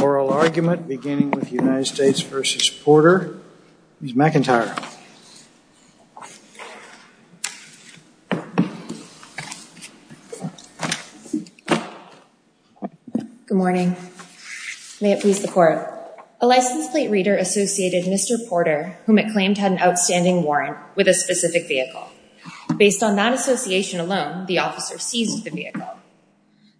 Oral argument beginning with United States v. Porter, Ms. McIntyre. Good morning. May it please the court. A license plate reader associated Mr. Porter, whom it claimed had an outstanding warrant, with a specific vehicle. Based on that association alone, the officer seized the vehicle.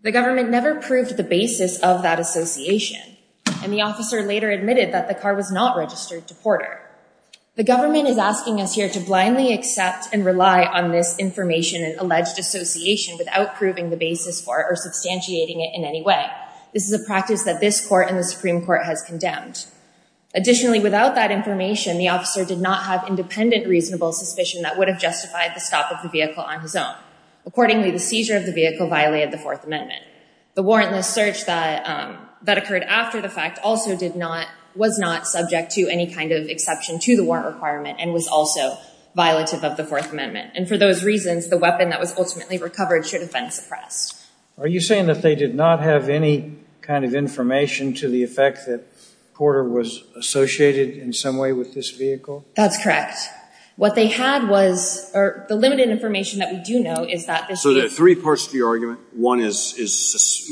The government never proved the basis of that association. And the officer later admitted that the car was not registered to Porter. The government is asking us here to blindly accept and rely on this information and alleged association without proving the basis for it or substantiating it in any way. This is a practice that this court and the Supreme Court has condemned. Additionally, without that information, the officer did not have independent reasonable suspicion that would have justified the stop of the vehicle on his own. Accordingly, the seizure of the vehicle violated the Fourth Amendment. The warrantless search that occurred after the fact also was not subject to any kind of exception to the warrant requirement and was also violative of the Fourth Amendment. And for those reasons, the weapon that was ultimately recovered should have been suppressed. Are you saying that they did not have any kind of information to the effect that Porter was associated in some way with this vehicle? That's correct. What they had was the limited information that we do know is that this vehicle… So there are three parts to your argument. One is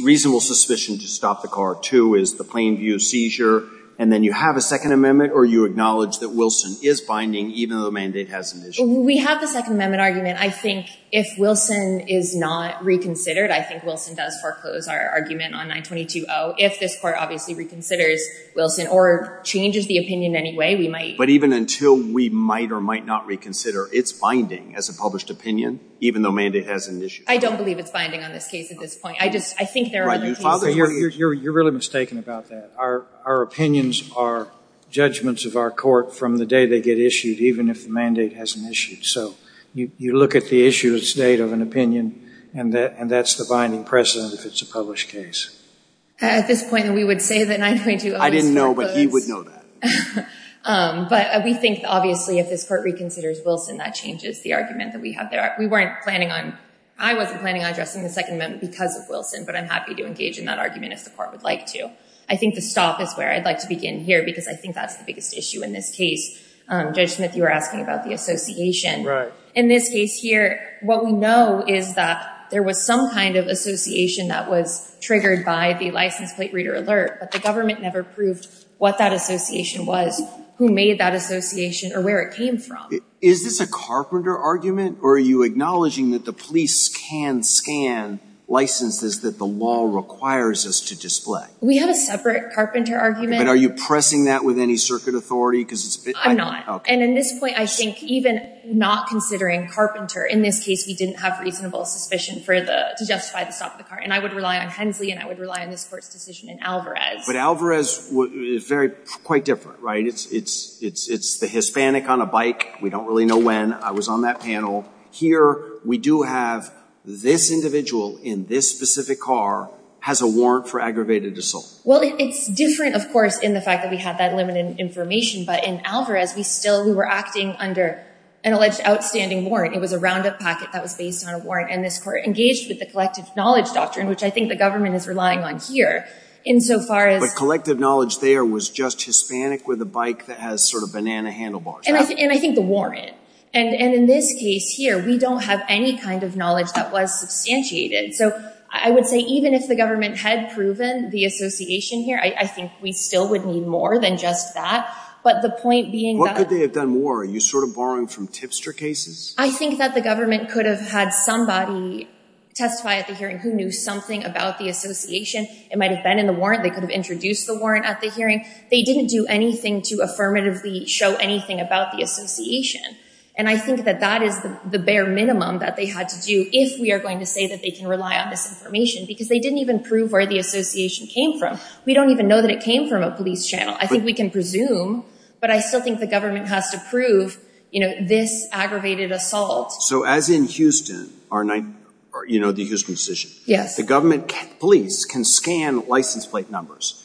reasonable suspicion to stop the car. Two is the plain view seizure. And then you have a Second Amendment or you acknowledge that Wilson is binding even though the mandate has an issue. We have the Second Amendment argument. I think if Wilson is not reconsidered, I think Wilson does foreclose our argument on 922-0. If this court obviously reconsiders Wilson or changes the opinion anyway, we might… But even until we might or might not reconsider its binding as a published opinion even though the mandate has an issue. I don't believe it's binding on this case at this point. I think there are other cases… You're really mistaken about that. Our opinions are judgments of our court from the day they get issued even if the mandate hasn't issued. So you look at the issue at the state of an opinion and that's the binding precedent if it's a published case. At this point, we would say that 922-0 is foreclosed. I didn't know, but he would know that. But we think obviously if this court reconsiders Wilson, that changes the argument that we have there. We weren't planning on… I wasn't planning on addressing the Second Amendment because of Wilson, but I'm happy to engage in that argument if the court would like to. I think the stop is where I'd like to begin here because I think that's the biggest issue in this case. Judge Smith, you were asking about the association. Right. In this case here, what we know is that there was some kind of association that was triggered by the license plate reader alert. But the government never proved what that association was, who made that association, or where it came from. Is this a carpenter argument or are you acknowledging that the police can scan licenses that the law requires us to display? We have a separate carpenter argument. But are you pressing that with any circuit authority because it's… I'm not. And in this point, I think even not considering carpenter, in this case, we didn't have reasonable suspicion to justify the stop of the car. And I would rely on Hensley and I would rely on this court's decision in Alvarez. But Alvarez is quite different, right? It's the Hispanic on a bike. We don't really know when. I was on that panel. Here, we do have this individual in this specific car has a warrant for aggravated assault. Well, it's different, of course, in the fact that we have that limited information. But in Alvarez, we still were acting under an alleged outstanding warrant. It was a roundup packet that was based on a warrant. And this court engaged with the collective knowledge doctrine, which I think the government is relying on here insofar as… But collective knowledge there was just Hispanic with a bike that has sort of banana handlebars, right? And I think the warrant. And in this case here, we don't have any kind of knowledge that was substantiated. So I would say even if the government had proven the association here, I think we still would need more than just that. But the point being that… What could they have done more? Are you sort of borrowing from tipster cases? I think that the government could have had somebody testify at the hearing who knew something about the association. It might have been in the warrant. They could have introduced the warrant at the hearing. They didn't do anything to affirmatively show anything about the association. And I think that that is the bare minimum that they had to do if we are going to say that they can rely on this information. Because they didn't even prove where the association came from. We don't even know that it came from a police channel. I think we can presume. But I still think the government has to prove, you know, this aggravated assault. So as in Houston, you know, the Houston decision. Yes. The government police can scan license plate numbers.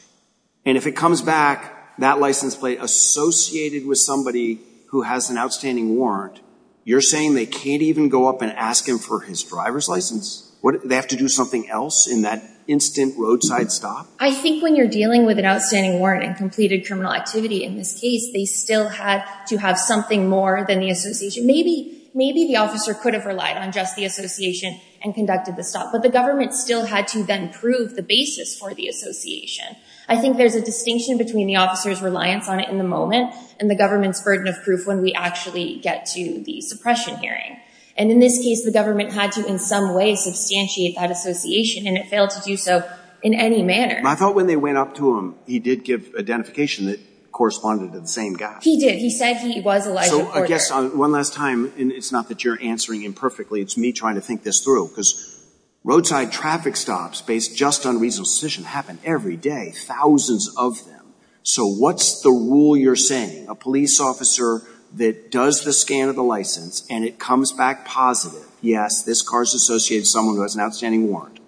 And if it comes back, that license plate associated with somebody who has an outstanding warrant, you're saying they can't even go up and ask him for his driver's license? They have to do something else in that instant roadside stop? I think when you're dealing with an outstanding warrant and completed criminal activity in this case, they still had to have something more than the association. Maybe the officer could have relied on just the association and conducted the stop. But the government still had to then prove the basis for the association. I think there's a distinction between the officer's reliance on it in the moment and the government's burden of proof when we actually get to the suppression hearing. And in this case, the government had to in some way substantiate that association. And it failed to do so in any manner. I thought when they went up to him, he did give identification that corresponded to the same guy. He did. He said he was Elijah Porter. So I guess one last time, and it's not that you're answering imperfectly. It's me trying to think this through. Because roadside traffic stops based just on reasonable suspicion happen every day. Thousands of them. So what's the rule you're saying? A police officer that does the scan of the license and it comes back positive, yes, this car's associated with someone who has an outstanding warrant,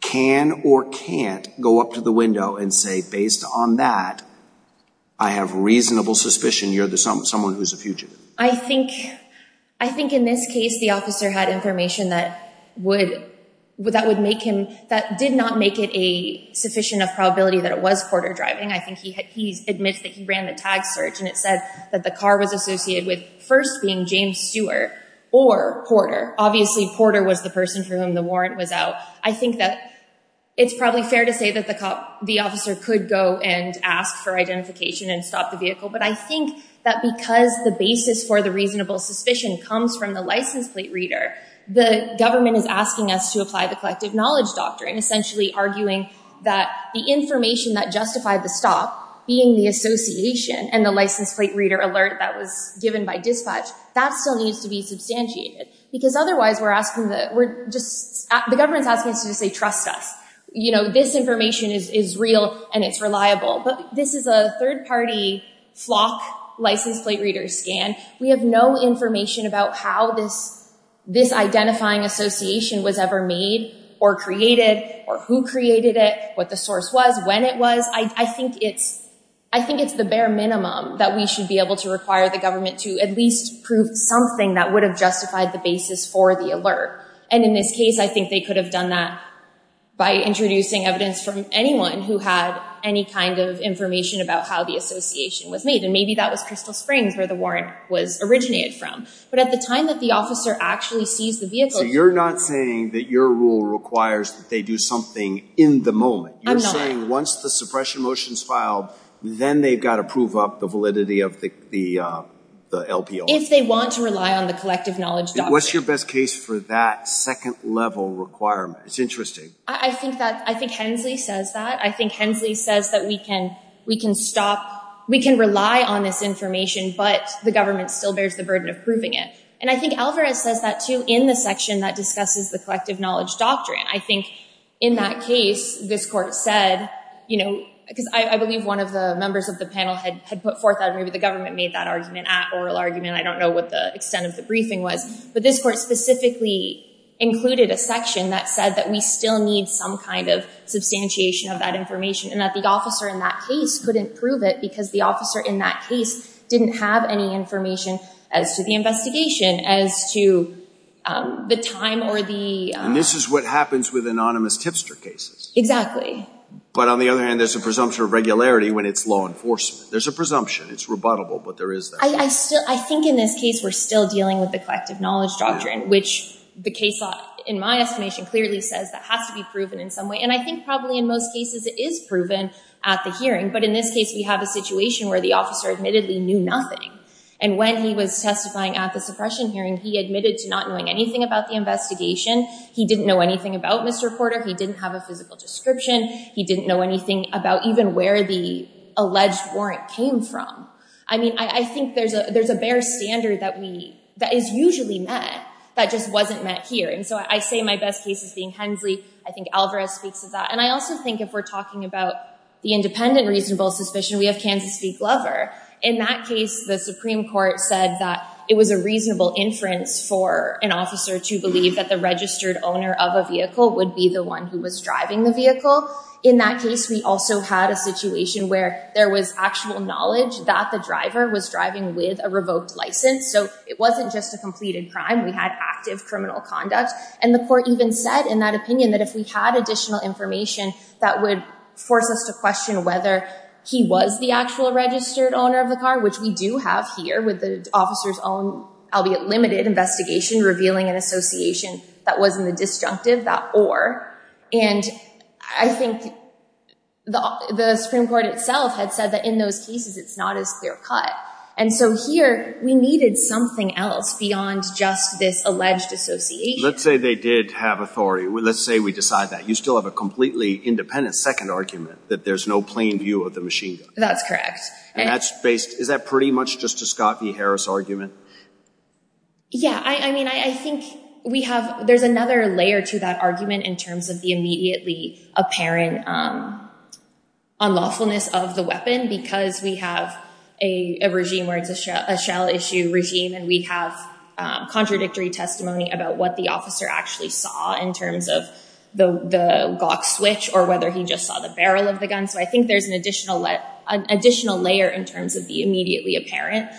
can or can't go up to the window and say, based on that, I have reasonable suspicion you're someone who's a fugitive. I think in this case the officer had information that would make him, that did not make it a sufficient of probability that it was Porter driving. I think he admits that he ran the tag search and it said that the car was associated with first being James Stewart or Porter. Obviously Porter was the person for whom the warrant was out. I think that it's probably fair to say that the officer could go and ask for identification and stop the vehicle. But I think that because the basis for the reasonable suspicion comes from the license plate reader, the government is asking us to apply the collective knowledge doctrine, essentially arguing that the information that justified the stop, being the association and the license plate reader alert that was given by dispatch, that still needs to be substantiated. Because otherwise we're asking, the government's asking us to say, trust us. This information is real and it's reliable. But this is a third party flock license plate reader scan. We have no information about how this identifying association was ever made or created or who created it, what the source was, when it was. I think it's the bare minimum that we should be able to require the government to at least prove something that would have justified the basis for the alert. And in this case I think they could have done that by introducing evidence from anyone who had any kind of information about how the association was made. And maybe that was Crystal Springs where the warrant was originated from. But at the time that the officer actually sees the vehicle. So you're not saying that your rule requires that they do something in the moment. I'm not. You're saying once the suppression motion is filed, then they've got to prove up the validity of the LPO. If they want to rely on the collective knowledge doctrine. What's your best case for that second level requirement? It's interesting. I think that, I think Hensley says that. We can rely on this information, but the government still bears the burden of proving it. And I think Alvarez says that too in the section that discusses the collective knowledge doctrine. I think in that case, this court said, you know, because I believe one of the members of the panel had put forth that maybe the government made that argument, that oral argument. I don't know what the extent of the briefing was. But this court specifically included a section that said that we still need some kind of information and that the officer in that case couldn't prove it because the officer in that case didn't have any information as to the investigation, as to the time or the... And this is what happens with anonymous tipster cases. Exactly. But on the other hand, there's a presumption of regularity when it's law enforcement. There's a presumption. It's rebuttable, but there is that. I think in this case, we're still dealing with the collective knowledge doctrine, which the case law, in my estimation, clearly says that has to be proven in some way. And I think probably in most cases, it is proven at the hearing. But in this case, we have a situation where the officer admittedly knew nothing. And when he was testifying at the suppression hearing, he admitted to not knowing anything about the investigation. He didn't know anything about Mr. Porter. He didn't have a physical description. He didn't know anything about even where the alleged warrant came from. I mean, I think there's a bare standard that is usually met that just wasn't met here. And so I say my best case is being Hensley. I think Alvarez speaks to that. And I also think if we're talking about the independent reasonable suspicion, we have Kansas v. Glover. In that case, the Supreme Court said that it was a reasonable inference for an officer to believe that the registered owner of a vehicle would be the one who was driving the vehicle. In that case, we also had a situation where there was actual knowledge that the driver was driving with a revoked license. So it wasn't just a completed crime. We had active criminal conduct. And the court even said in that opinion that if we had additional information, that would force us to question whether he was the actual registered owner of the car, which we do have here with the officer's own, albeit limited, investigation revealing an association that wasn't the disjunctive, that or. And I think the Supreme Court itself had said that in those cases, it's not as clear cut. And so here, we needed something else beyond just this alleged association. Let's say they did have authority. Let's say we decide that. You still have a completely independent second argument that there's no plain view of the machine gun. That's correct. And that's based – is that pretty much just a Scott v. Harris argument? Yeah. I mean, I think we have – there's another layer to that argument in terms of the immediately apparent unlawfulness of the weapon because we have a regime where it's a shell issue regime. And we have contradictory testimony about what the officer actually saw in terms of the Glock switch or whether he just saw the barrel of the gun. So I think there's an additional layer in terms of the immediately apparent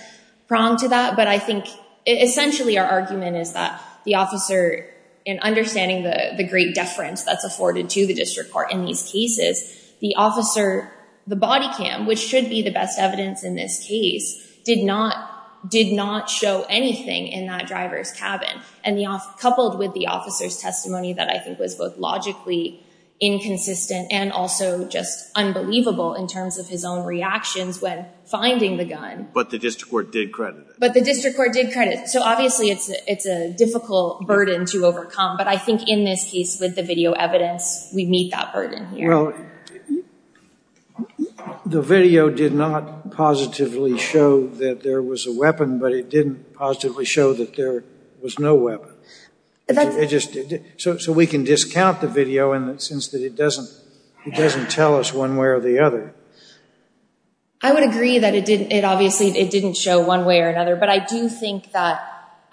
prong to that. But I think essentially our argument is that the officer, in understanding the great deference that's afforded to the district court in these cases, the officer – the body cam, which should be the best evidence in this case, did not show anything in that driver's cabin. And coupled with the officer's testimony that I think was both logically inconsistent and also just unbelievable in terms of his own reactions when finding the gun. But the district court did credit it. But the district court did credit it. So obviously it's a difficult burden to overcome. But I think in this case with the video evidence, we meet that burden here. Well, the video did not positively show that there was a weapon, but it didn't positively show that there was no weapon. It just – so we can discount the video in the sense that it doesn't tell us one way or the other. I would agree that it obviously didn't show one way or another. But I do think that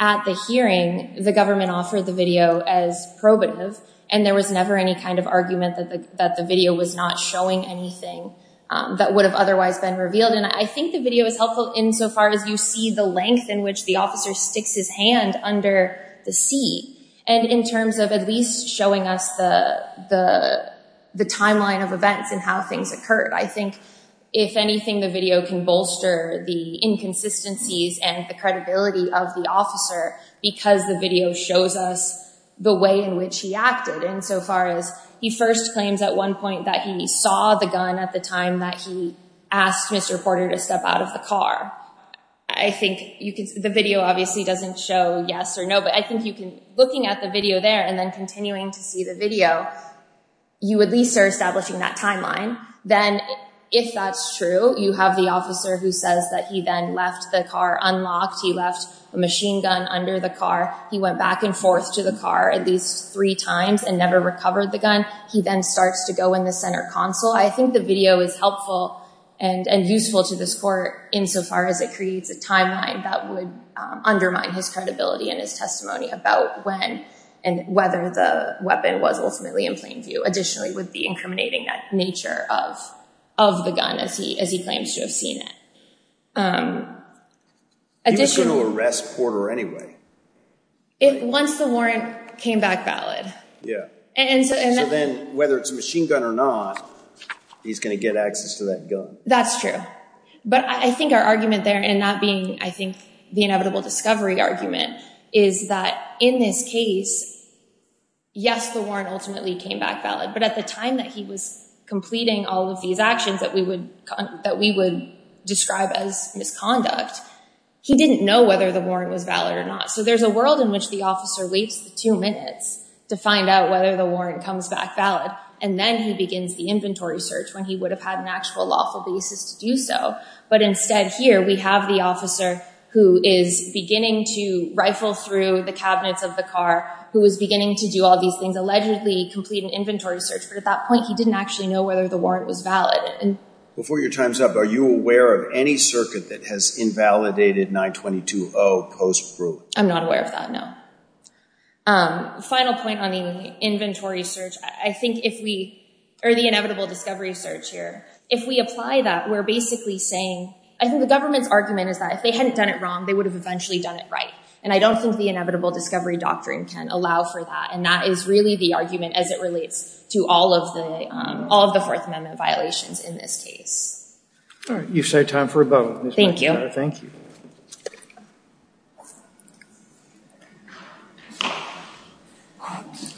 at the hearing, the government offered the video as probative, and there was never any kind of argument that the video was not showing anything that would have otherwise been revealed. And I think the video is helpful insofar as you see the length in which the officer sticks his hand under the seat. And in terms of at least showing us the timeline of events and how things occurred, I think if anything, the video can bolster the inconsistencies and the credibility of the officer because the video shows us the way in which he acted. Insofar as he first claims at one point that he saw the gun at the time that he asked Mr. Porter to step out of the car. I think you can – the video obviously doesn't show yes or no, but I think you can – looking at the video there and then continuing to see the video, you at least are establishing that timeline. Then if that's true, you have the officer who says that he then left the car unlocked. He left a machine gun under the car. He went back and forth to the car at least three times and never recovered the gun. He then starts to go in the center console. So I think the video is helpful and useful to this court insofar as it creates a timeline that would undermine his credibility and his testimony about when and whether the weapon was ultimately in plain view. Additionally, it would be incriminating that nature of the gun as he claims to have seen it. He was going to arrest Porter anyway. Once the warrant came back valid. So then whether it's a machine gun or not, he's going to get access to that gun. That's true. But I think our argument there, and that being I think the inevitable discovery argument, is that in this case, yes, the warrant ultimately came back valid. But at the time that he was completing all of these actions that we would describe as misconduct, he didn't know whether the warrant was valid or not. So there's a world in which the officer waits two minutes to find out whether the warrant comes back valid. And then he begins the inventory search when he would have had an actual lawful basis to do so. But instead, here we have the officer who is beginning to rifle through the cabinets of the car, who was beginning to do all these things, allegedly complete an inventory search. But at that point, he didn't actually know whether the warrant was valid. Before your time's up, are you aware of any circuit that has invalidated 922-0 post-approval? I'm not aware of that, no. Final point on the inventory search, I think if we, or the inevitable discovery search here, if we apply that, we're basically saying, I think the government's argument is that if they hadn't done it wrong, they would have eventually done it right. And I don't think the inevitable discovery doctrine can allow for that. And that is really the argument as it relates to all of the Fourth Amendment violations in this case. All right. You've saved time for a vote. Thank you. Thank you.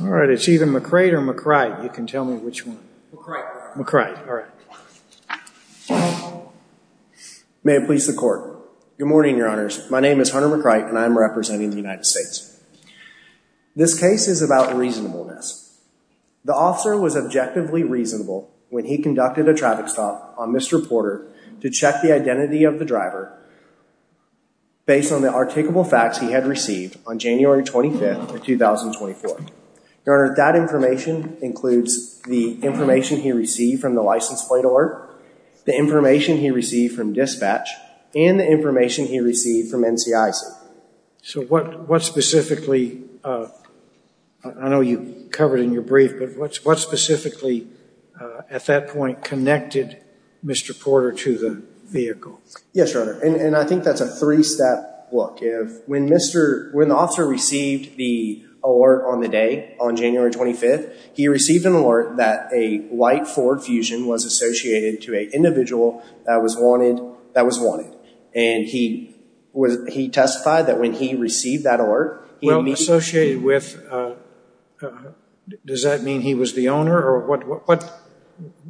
All right. It's either McCrait or McCrite. You can tell me which one. McCrite. McCrite. All right. May it please the Court. Good morning, Your Honors. My name is Hunter McCrite, and I am representing the United States. This case is about reasonableness. The officer was objectively reasonable when he conducted a traffic stop on Mr. Porter to check the identity of the driver based on the articulable facts he had received on January 25th of 2024. Your Honor, that information includes the information he received from the license plate alert, the information he received from dispatch, and the information he received from NCIC. So what specifically, I know you covered in your brief, but what specifically at that point connected Mr. Porter to the vehicle? Yes, Your Honor. And I think that's a three-step look. When the officer received the alert on the day, on January 25th, he received an alert that a white Ford Fusion was associated to an individual that was wanted. And he testified that when he received that alert, he immediately Well, associated with, does that mean he was the owner? Or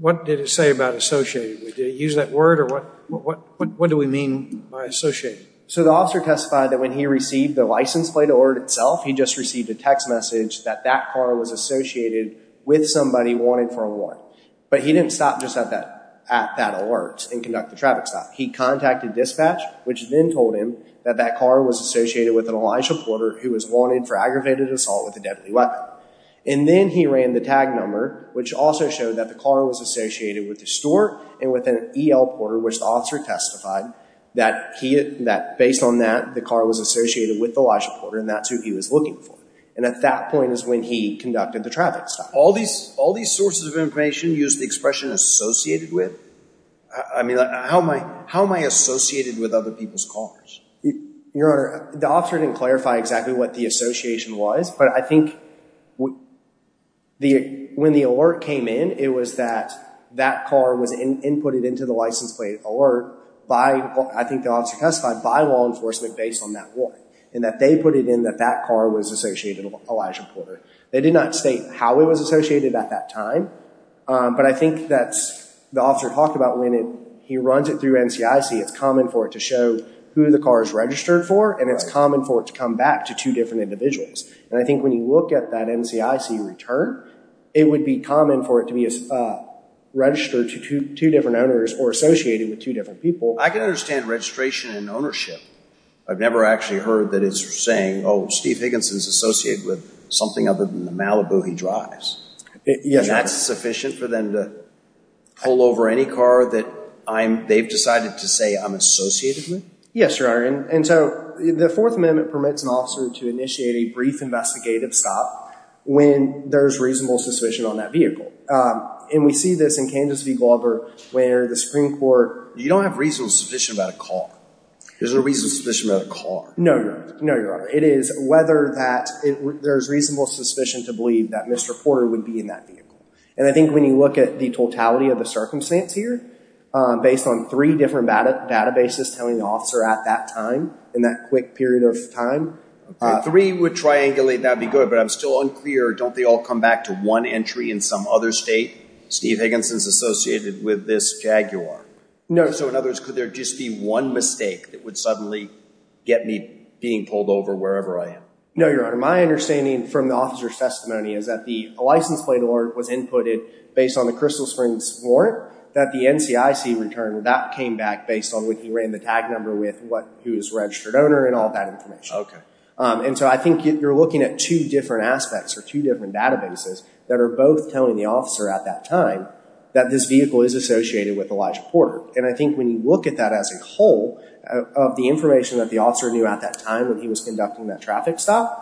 what did it say about associated with? Did it use that word, or what do we mean by associated? So the officer testified that when he received the license plate alert itself, he just received a text message that that car was associated with somebody wanted for a warrant. But he didn't stop just at that alert and conduct the traffic stop. He contacted dispatch, which then told him that that car was associated with an Elijah Porter who was wanted for aggravated assault with a deadly weapon. And then he ran the tag number, which also showed that the car was associated with the store and with an EL Porter, which the officer testified that based on that, the car was associated with the Elijah Porter and that's who he was looking for. And at that point is when he conducted the traffic stop. All these sources of information use the expression associated with? I mean, how am I associated with other people's cars? Your Honor, the officer didn't clarify exactly what the association was. But I think when the alert came in, it was that that car was inputted into the license plate alert by, I think the officer testified, by law enforcement based on that warrant. And that they put it in that that car was associated with Elijah Porter. They did not state how it was associated at that time. But I think that's, the officer talked about when he runs it through NCIC, it's common for it to show who the car is registered for and it's common for it to come back to two different individuals. And I think when you look at that NCIC return, it would be common for it to be registered to two different owners or associated with two different people. I can understand registration and ownership. I've never actually heard that it's saying, oh, Steve Higginson is associated with something other than the Malibu he drives. Yes, Your Honor. Is that sufficient for them to pull over any car that they've decided to say I'm associated with? Yes, Your Honor. And so the Fourth Amendment permits an officer to initiate a brief investigative stop when there's reasonable suspicion on that vehicle. And we see this in Kansas v. Glover where the Supreme Court you don't have reasonable suspicion about a car. There's no reasonable suspicion about a car. No, Your Honor. No, Your Honor. It is whether there's reasonable suspicion to believe that Mr. Porter would be in that vehicle. And I think when you look at the totality of the circumstance here, based on three different databases telling the officer at that time, in that quick period of time. Three would triangulate. That would be good. But I'm still unclear. Don't they all come back to one entry in some other state? Steve Higginson's associated with this Jaguar. No. So in other words, could there just be one mistake that would suddenly get me being pulled over wherever I am? No, Your Honor. My understanding from the officer's testimony is that the license plate alert was inputted based on the Crystal Springs warrant. That the NCIC returned, that came back based on when he ran the tag number with who's registered owner and all that information. Okay. And so I think you're looking at two different aspects or two different databases that are both telling the officer at that time that this vehicle is associated with Elijah Porter. And I think when you look at that as a whole, of the information that the officer knew at that time when he was conducting that traffic stop,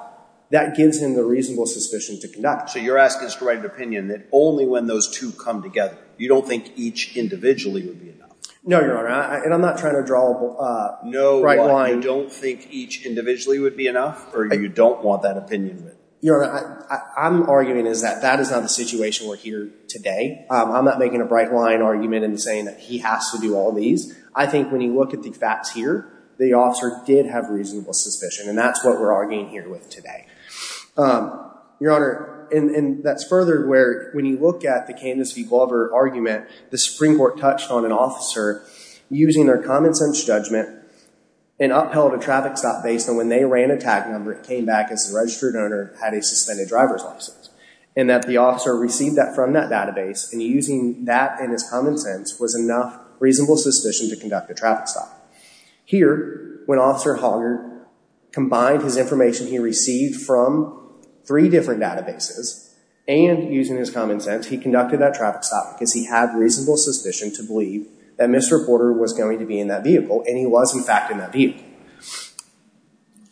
that gives him the reasonable suspicion to conduct it. So you're asking us to write an opinion that only when those two come together, you don't think each individually would be enough? No, Your Honor. And I'm not trying to draw a bright line. No, you don't think each individually would be enough? Or you don't want that opinion? Your Honor, I'm arguing is that that is not the situation we're here today. I'm not making a bright line argument and saying that he has to do all these. I think when you look at the facts here, the officer did have reasonable suspicion. And that's what we're arguing here with today. Your Honor, and that's further where when you look at the Kansas v. Glover argument, the Supreme Court touched on an officer using their common sense judgment and upheld a traffic stop based on when they ran a tag number and came back as the registered owner, had a suspended driver's license. And that the officer received that from that database, and using that and his common sense was enough reasonable suspicion to conduct a traffic stop. Here, when Officer Hoggart combined his information he received from three different databases and using his common sense, he conducted that traffic stop because he had reasonable suspicion to believe that Mr. Porter was going to be in that vehicle, and he was, in fact, in that vehicle.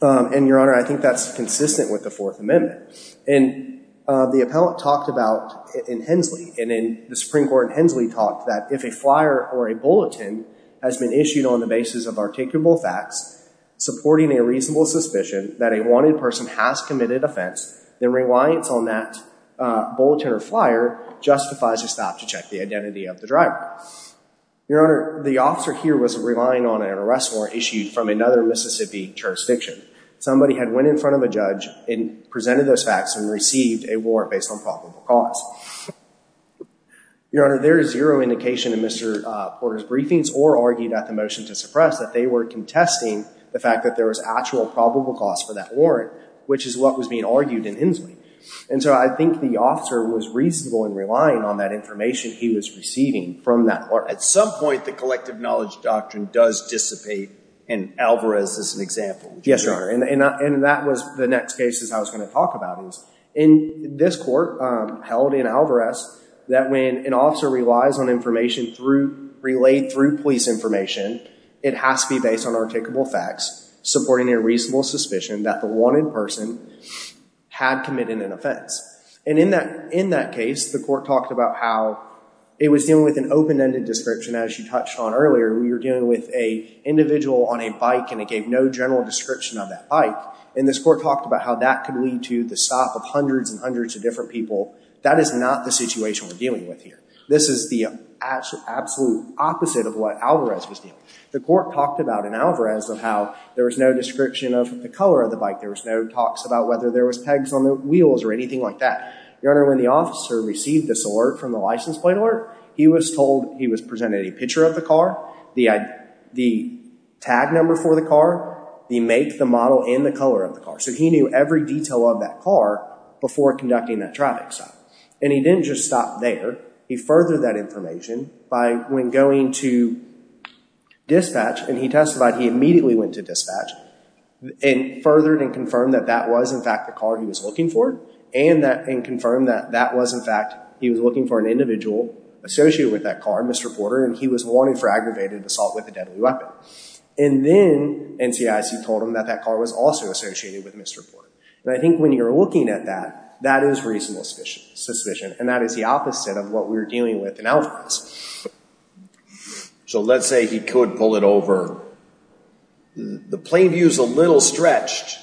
And, Your Honor, I think that's consistent with the Fourth Amendment. And the appellant talked about, in Hensley, and in the Supreme Court in Hensley, talked that if a flyer or a bulletin has been issued on the basis of articulable facts supporting a reasonable suspicion that a wanted person has committed offense, the reliance on that bulletin or flyer justifies a stop to check the identity of the driver. Your Honor, the officer here was relying on an arrest warrant issued from another Mississippi jurisdiction. Somebody had went in front of a judge and presented those facts and received a warrant based on probable cause. Your Honor, there is zero indication in Mr. Porter's briefings or argued at the motion to suppress that they were contesting the fact that there was actual probable cause for that warrant, which is what was being argued in Hensley. And so I think the officer was reasonable in relying on that information he was receiving from that. At some point, the collective knowledge doctrine does dissipate, and Alvarez is an example. Yes, Your Honor, and that was the next case I was going to talk about. In this court, held in Alvarez, that when an officer relies on information relayed through police information, it has to be based on articulable facts supporting a reasonable suspicion that the wanted person had committed an offense. And in that case, the court talked about how it was dealing with an open-ended description. As you touched on earlier, we were dealing with an individual on a bike, and it gave no general description of that bike. And this court talked about how that could lead to the stop of hundreds and hundreds of different people. That is not the situation we're dealing with here. This is the absolute opposite of what Alvarez was dealing with. The court talked about in Alvarez of how there was no description of the color of the bike. There was no talks about whether there was pegs on the wheels or anything like that. Your Honor, when the officer received this alert from the license plate alert, he was told he was presented a picture of the car, the tag number for the car, the make, the model, and the color of the car. So he knew every detail of that car before conducting that traffic stop. And he didn't just stop there. He furthered that information by, when going to dispatch, and he testified he immediately went to dispatch, and furthered and confirmed that that was, in fact, the car he was looking for, and confirmed that that was, in fact, he was looking for an individual associated with that car, Mr. Porter, and he was wanted for aggravated assault with a deadly weapon. And then NCIC told him that that car was also associated with Mr. Porter. And I think when you're looking at that, that is reasonable suspicion, and that is the opposite of what we were dealing with in Alvarez. So let's say he could pull it over. The plane view is a little stretched,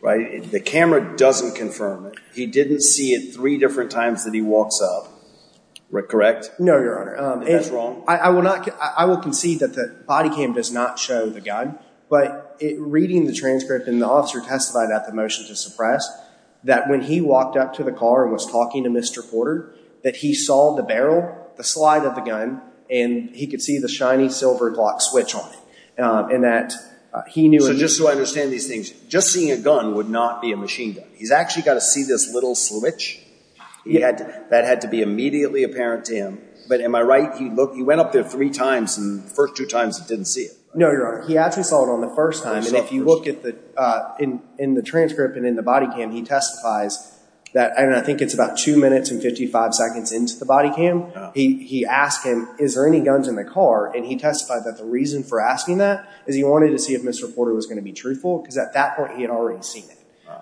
right? The camera doesn't confirm it. He didn't see it three different times that he walks up. Correct? No, Your Honor. That's wrong? I will concede that the body cam does not show the gun, but reading the transcript, and the officer testified at the motion to suppress, that when he walked up to the car and was talking to Mr. Porter, that he saw the barrel, the slide of the gun, and he could see the shiny silver clock switch on it. And that he knew... So just so I understand these things, just seeing a gun would not be a machine gun. He's actually got to see this little switch. That had to be immediately apparent to him. But am I right? He went up there three times, and the first two times he didn't see it. No, Your Honor. He actually saw it on the first time. And if you look in the transcript and in the body cam, he testifies that I think it's about two minutes and 55 seconds into the body cam. He asked him, is there any guns in the car? And he testified that the reason for asking that is he wanted to see if Mr. Porter was going to be truthful, because at that point he had already seen it.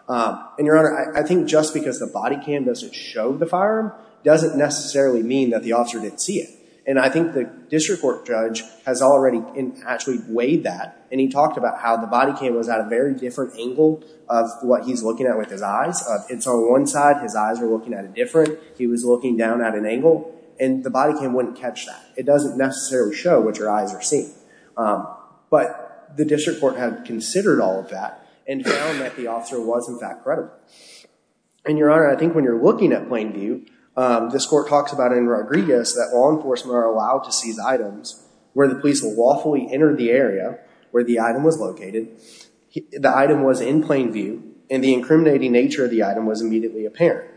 And, Your Honor, I think just because the body cam doesn't show the firearm doesn't necessarily mean that the officer didn't see it. And I think the district court judge has already actually weighed that, and he talked about how the body cam was at a very different angle of what he's looking at with his eyes. It's on one side. His eyes were looking at it different. He was looking down at an angle. And the body cam wouldn't catch that. It doesn't necessarily show what your eyes are seeing. But the district court had considered all of that and found that the officer was, in fact, credible. And, Your Honor, I think when you're looking at plain view, this court talks about in Rodriguez that law enforcement are allowed to seize the area where the item was located, the item was in plain view, and the incriminating nature of the item was immediately apparent.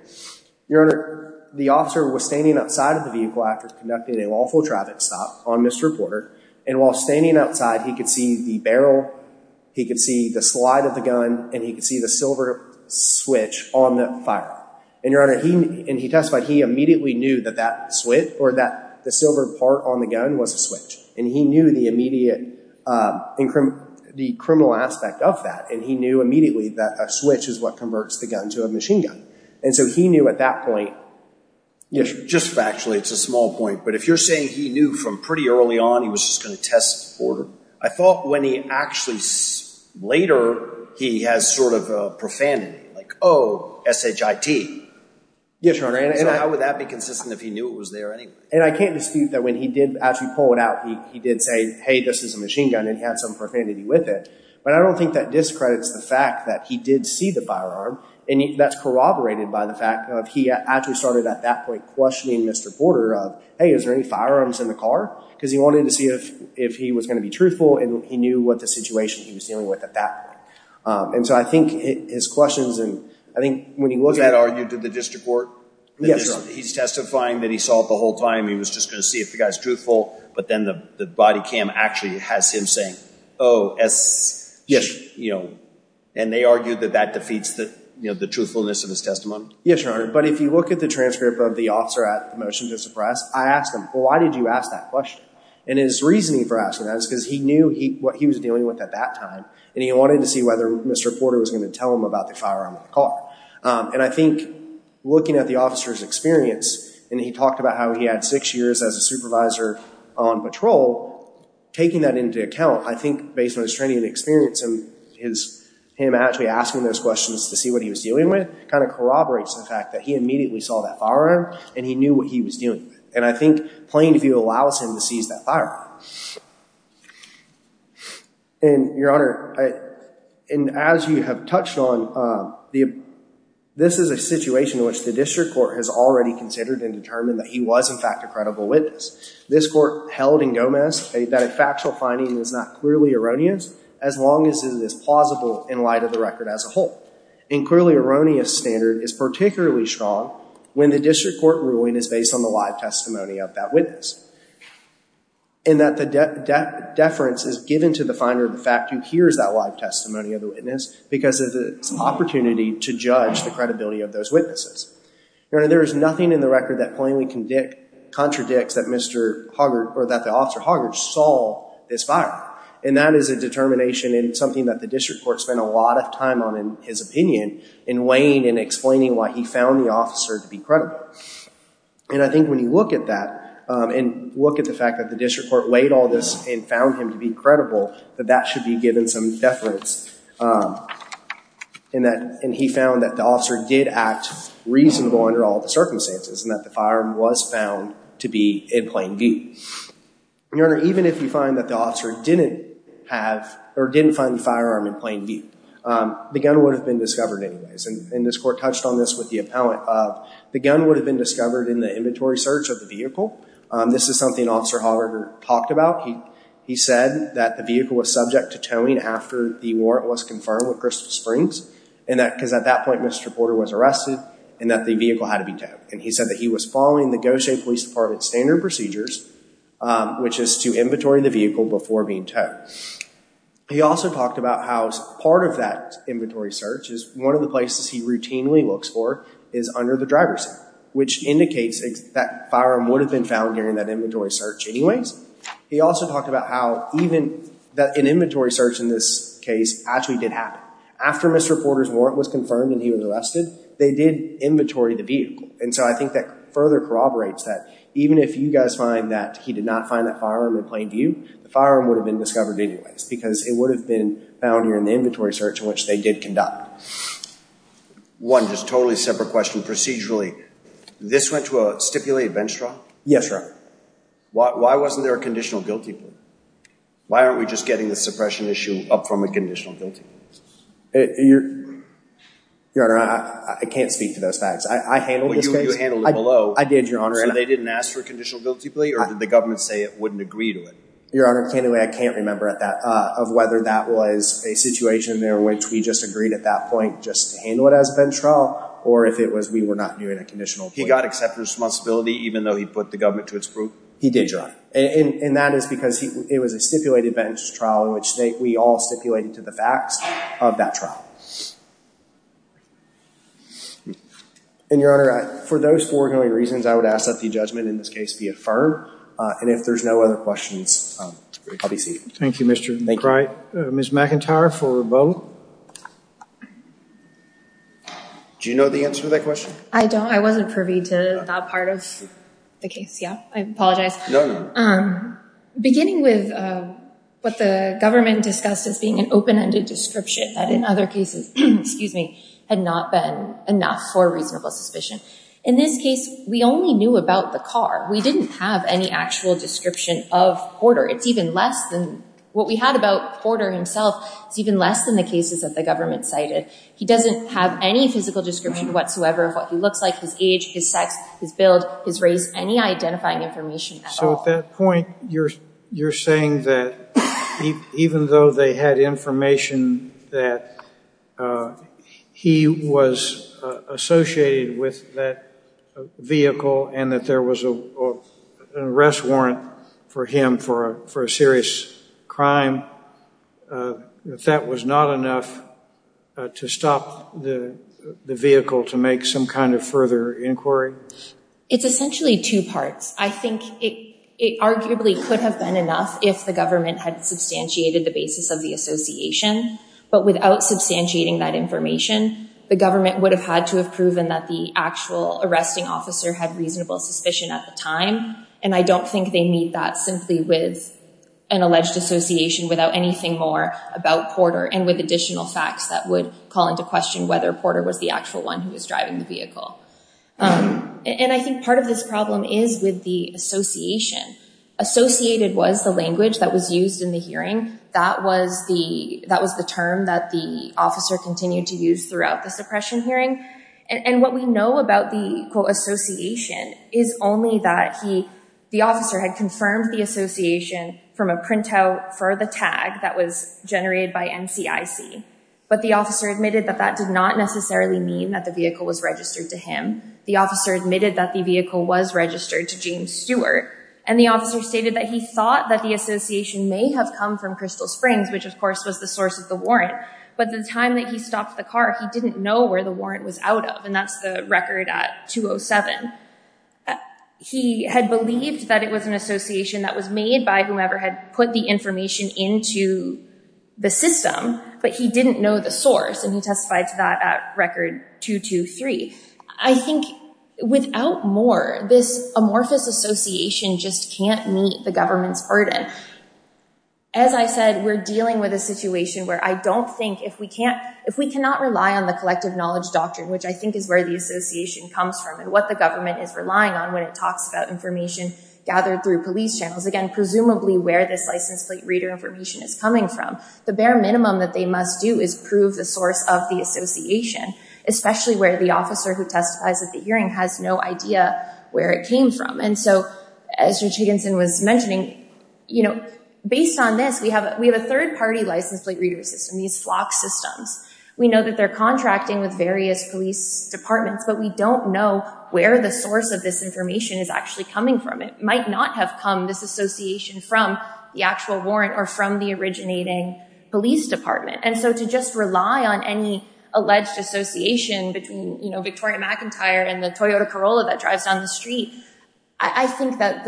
Your Honor, the officer was standing outside of the vehicle after conducting a lawful traffic stop on Mr. Porter, and while standing outside, he could see the barrel, he could see the slide of the gun, and he could see the silver switch on the firearm. And, Your Honor, he testified he immediately knew that that switch, or that the silver part on the gun was a switch. And he knew the immediate criminal aspect of that, and he knew immediately that a switch is what converts the gun to a machine gun. And so he knew at that point. Just factually, it's a small point, but if you're saying he knew from pretty early on he was just going to test Porter, I thought when he actually later, he has sort of a profanity, like, oh, S-H-I-T. Yes, Your Honor. So how would that be consistent if he knew it was there anyway? And I can't dispute that when he did actually pull it out, he did say, hey, this is a machine gun, and he had some profanity with it. But I don't think that discredits the fact that he did see the firearm, and that's corroborated by the fact of he actually started at that point questioning Mr. Porter of, hey, is there any firearms in the car? Because he wanted to see if he was going to be truthful, and he knew what the situation he was dealing with at that point. And so I think his questions, and I think when he looked at it. He had argued to the district court? Yes, Your Honor. He's testifying that he saw it the whole time. He was just going to see if the guy's truthful, but then the body cam actually has him saying, oh, S-H-I-T-H. And they argued that that defeats the truthfulness of his testimony? Yes, Your Honor. But if you look at the transcript of the officer at the motion to suppress, I asked him, well, why did you ask that question? And his reasoning for asking that is because he knew what he was dealing with at that time, and he wanted to see whether Mr. Porter was going to tell him about the firearm in the car. And I think looking at the officer's experience, and he talked about how he had six years as a supervisor on patrol, taking that into account, I think based on his training and experience, him actually asking those questions to see what he was dealing with, kind of corroborates the fact that he immediately saw that firearm, and he knew what he was dealing with. And I think plain view allows him to seize that firearm. And, Your Honor, and as you have touched on, this is a situation in which the district court has already considered and determined that he was, in fact, a credible witness. This court held in Gomez that a factual finding is not clearly erroneous, as long as it is plausible in light of the record as a whole. And clearly erroneous standard is particularly strong when the district court ruling is based on the live testimony of that witness. And that the deference is given to the finder of the fact who hears that live testimony of the witness because of the opportunity to judge the credibility of those witnesses. Your Honor, there is nothing in the record that plainly contradicts that Mr. Hoggart, or that the officer Hoggart saw this firearm. And that is a determination and something that the district court spent a lot of time on, in his opinion, in weighing and explaining why he found the officer to be credible. And I think when you look at that, and look at the fact that the district court weighed all this and found him to be credible, that that should be given some deference. And he found that the officer did act reasonable under all the circumstances and that the firearm was found to be in plain view. Your Honor, even if you find that the officer didn't have, or didn't find the firearm in plain view, the gun would have been discovered anyways. And this court touched on this with the appellant. The gun would have been discovered in the inventory search of the vehicle. This is something Officer Hoggart talked about. He said that the vehicle was subject to towing after the warrant was confirmed with Crystal Springs. Because at that point, Mr. Porter was arrested, and that the vehicle had to be towed. And he said that he was following the Gautier Police Department standard procedures, which is to inventory the vehicle before being towed. He also talked about how part of that inventory search is one of the places he routinely looks for is under the driver's seat, which indicates that firearm would have been found during that inventory search anyways. He also talked about how even an inventory search in this case actually did happen. After Mr. Porter's warrant was confirmed and he was arrested, they did inventory the vehicle. And so I think that further corroborates that even if you guys find that he did not find that firearm in plain view, the firearm would have been discovered anyways because it would have been found during the inventory search to which they did conduct. One just totally separate question. Procedurally, this went to a stipulated bench trial? Yes, Your Honor. Why wasn't there a conditional guilty plea? Why aren't we just getting the suppression issue up from a conditional guilty plea? Your Honor, I can't speak to those facts. I handled this case. Well, you handled it below. I did, Your Honor. So they didn't ask for a conditional guilty plea, or did the government say it wouldn't agree to it? Your Honor, I can't remember whether that was a situation in which we just agreed at that point just to handle it as a bench trial or if it was we were not doing a conditional plea. He got acceptor's responsibility even though he put the government to its proof? He did, Your Honor. And that is because it was a stipulated bench trial in which we all stipulated to the facts of that trial. And, Your Honor, for those foregoing reasons, I would ask that the judgment in this case be affirmed. And if there's no other questions, I'll be seated. Thank you, Mr. McBride. Thank you. Ms. McIntyre for rebuttal. Do you know the answer to that question? I don't. I wasn't privy to that part of the case. Yeah, I apologize. No, no. Beginning with what the government discussed as being an open-ended description that in other cases had not been enough for a reasonable suspicion, in this case we only knew about the car. We didn't have any actual description of Porter. What we had about Porter himself is even less than the cases that the government cited. He doesn't have any physical description whatsoever of what he looks like, his age, his sex, his build, his race, any identifying information at all. So at that point you're saying that even though they had information that he was associated with that vehicle and that there was an arrest warrant for him for a serious crime, that that was not enough to stop the vehicle to make some kind of further inquiry? It's essentially two parts. I think it arguably could have been enough if the government had substantiated the basis of the association. But without substantiating that information, the government would have had to have proven that the actual arresting officer had reasonable suspicion at the time. And I don't think they need that simply with an alleged association without anything more about Porter and with additional facts that would call into question whether Porter was the actual one who was driving the vehicle. And I think part of this problem is with the association. Associated was the language that was used in the hearing. That was the term that the officer continued to use throughout the suppression hearing. And what we know about the, quote, association is only that the officer had confirmed the association from a printout for the tag that was generated by NCIC. But the officer admitted that that did not necessarily mean that the vehicle was registered to him. The officer admitted that the vehicle was registered to James Stewart. And the officer stated that he thought that the association may have come from Crystal Springs, which, of course, was the source of the warrant. But the time that he stopped the car, he didn't know where the warrant was out of, and that's the record at 207. He had believed that it was an association that was made by whomever had put the information into the system, but he didn't know the source, and he testified to that at record 223. I think without more, this amorphous association just can't meet the government's burden. As I said, we're dealing with a situation where I don't think, if we cannot rely on the collective knowledge doctrine, which I think is where the association comes from and what the government is relying on when it talks about information gathered through police channels, again, presumably where this license plate reader information is coming from, the bare minimum that they must do is prove the source of the association, especially where the officer who testifies at the hearing has no idea where it came from. As Judge Higginson was mentioning, based on this, we have a third-party license plate reader system, these FLOC systems. We know that they're contracting with various police departments, but we don't know where the source of this information is actually coming from. It might not have come, this association, from the actual warrant or from the originating police department. To just rely on any alleged association between Victoria McIntyre and the Toyota Corolla that drives down the street, I think that,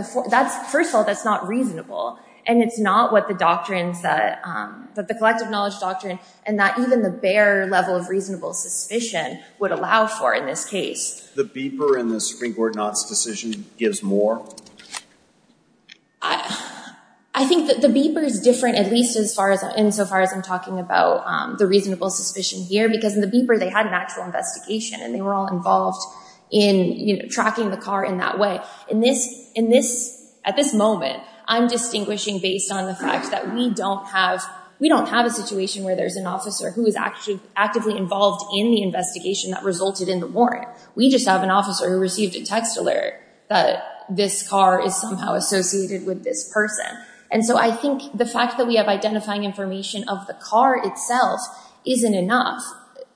first of all, that's not reasonable, and it's not what the collective knowledge doctrine and that even the bare level of reasonable suspicion would allow for in this case. The beeper in the Supreme Court not's decision gives more? I think that the beeper is different, at least insofar as I'm talking about the reasonable suspicion here, because in the beeper, they had an actual investigation, and they were all involved in tracking the car in that way. At this moment, I'm distinguishing based on the fact that we don't have a situation where there's an officer who is actively involved in the investigation that resulted in the warrant. We just have an officer who received a text alert that this car is somehow associated with this person. I think the fact that we have identifying information of the car itself isn't enough.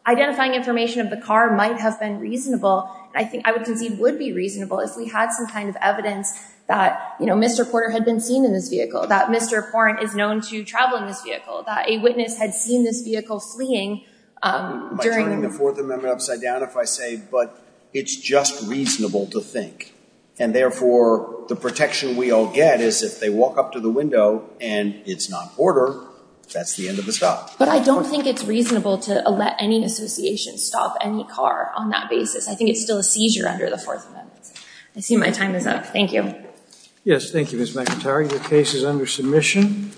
Identifying information of the car might have been reasonable, and I think I would concede would be reasonable, if we had some kind of evidence that Mr. Porter had been seen in this vehicle, that Mr. Porran is known to travel in this vehicle, that a witness had seen this vehicle fleeing during... Am I turning the Fourth Amendment upside down if I say, but it's just reasonable to think, and therefore the protection we all get is if they walk up to the window and it's not Porter, that's the end of the stop. But I don't think it's reasonable to let any association stop any car on that basis. I think it's still a seizure under the Fourth Amendment. I see my time is up. Thank you. Yes, thank you, Ms. McIntyre. Your case is under submission.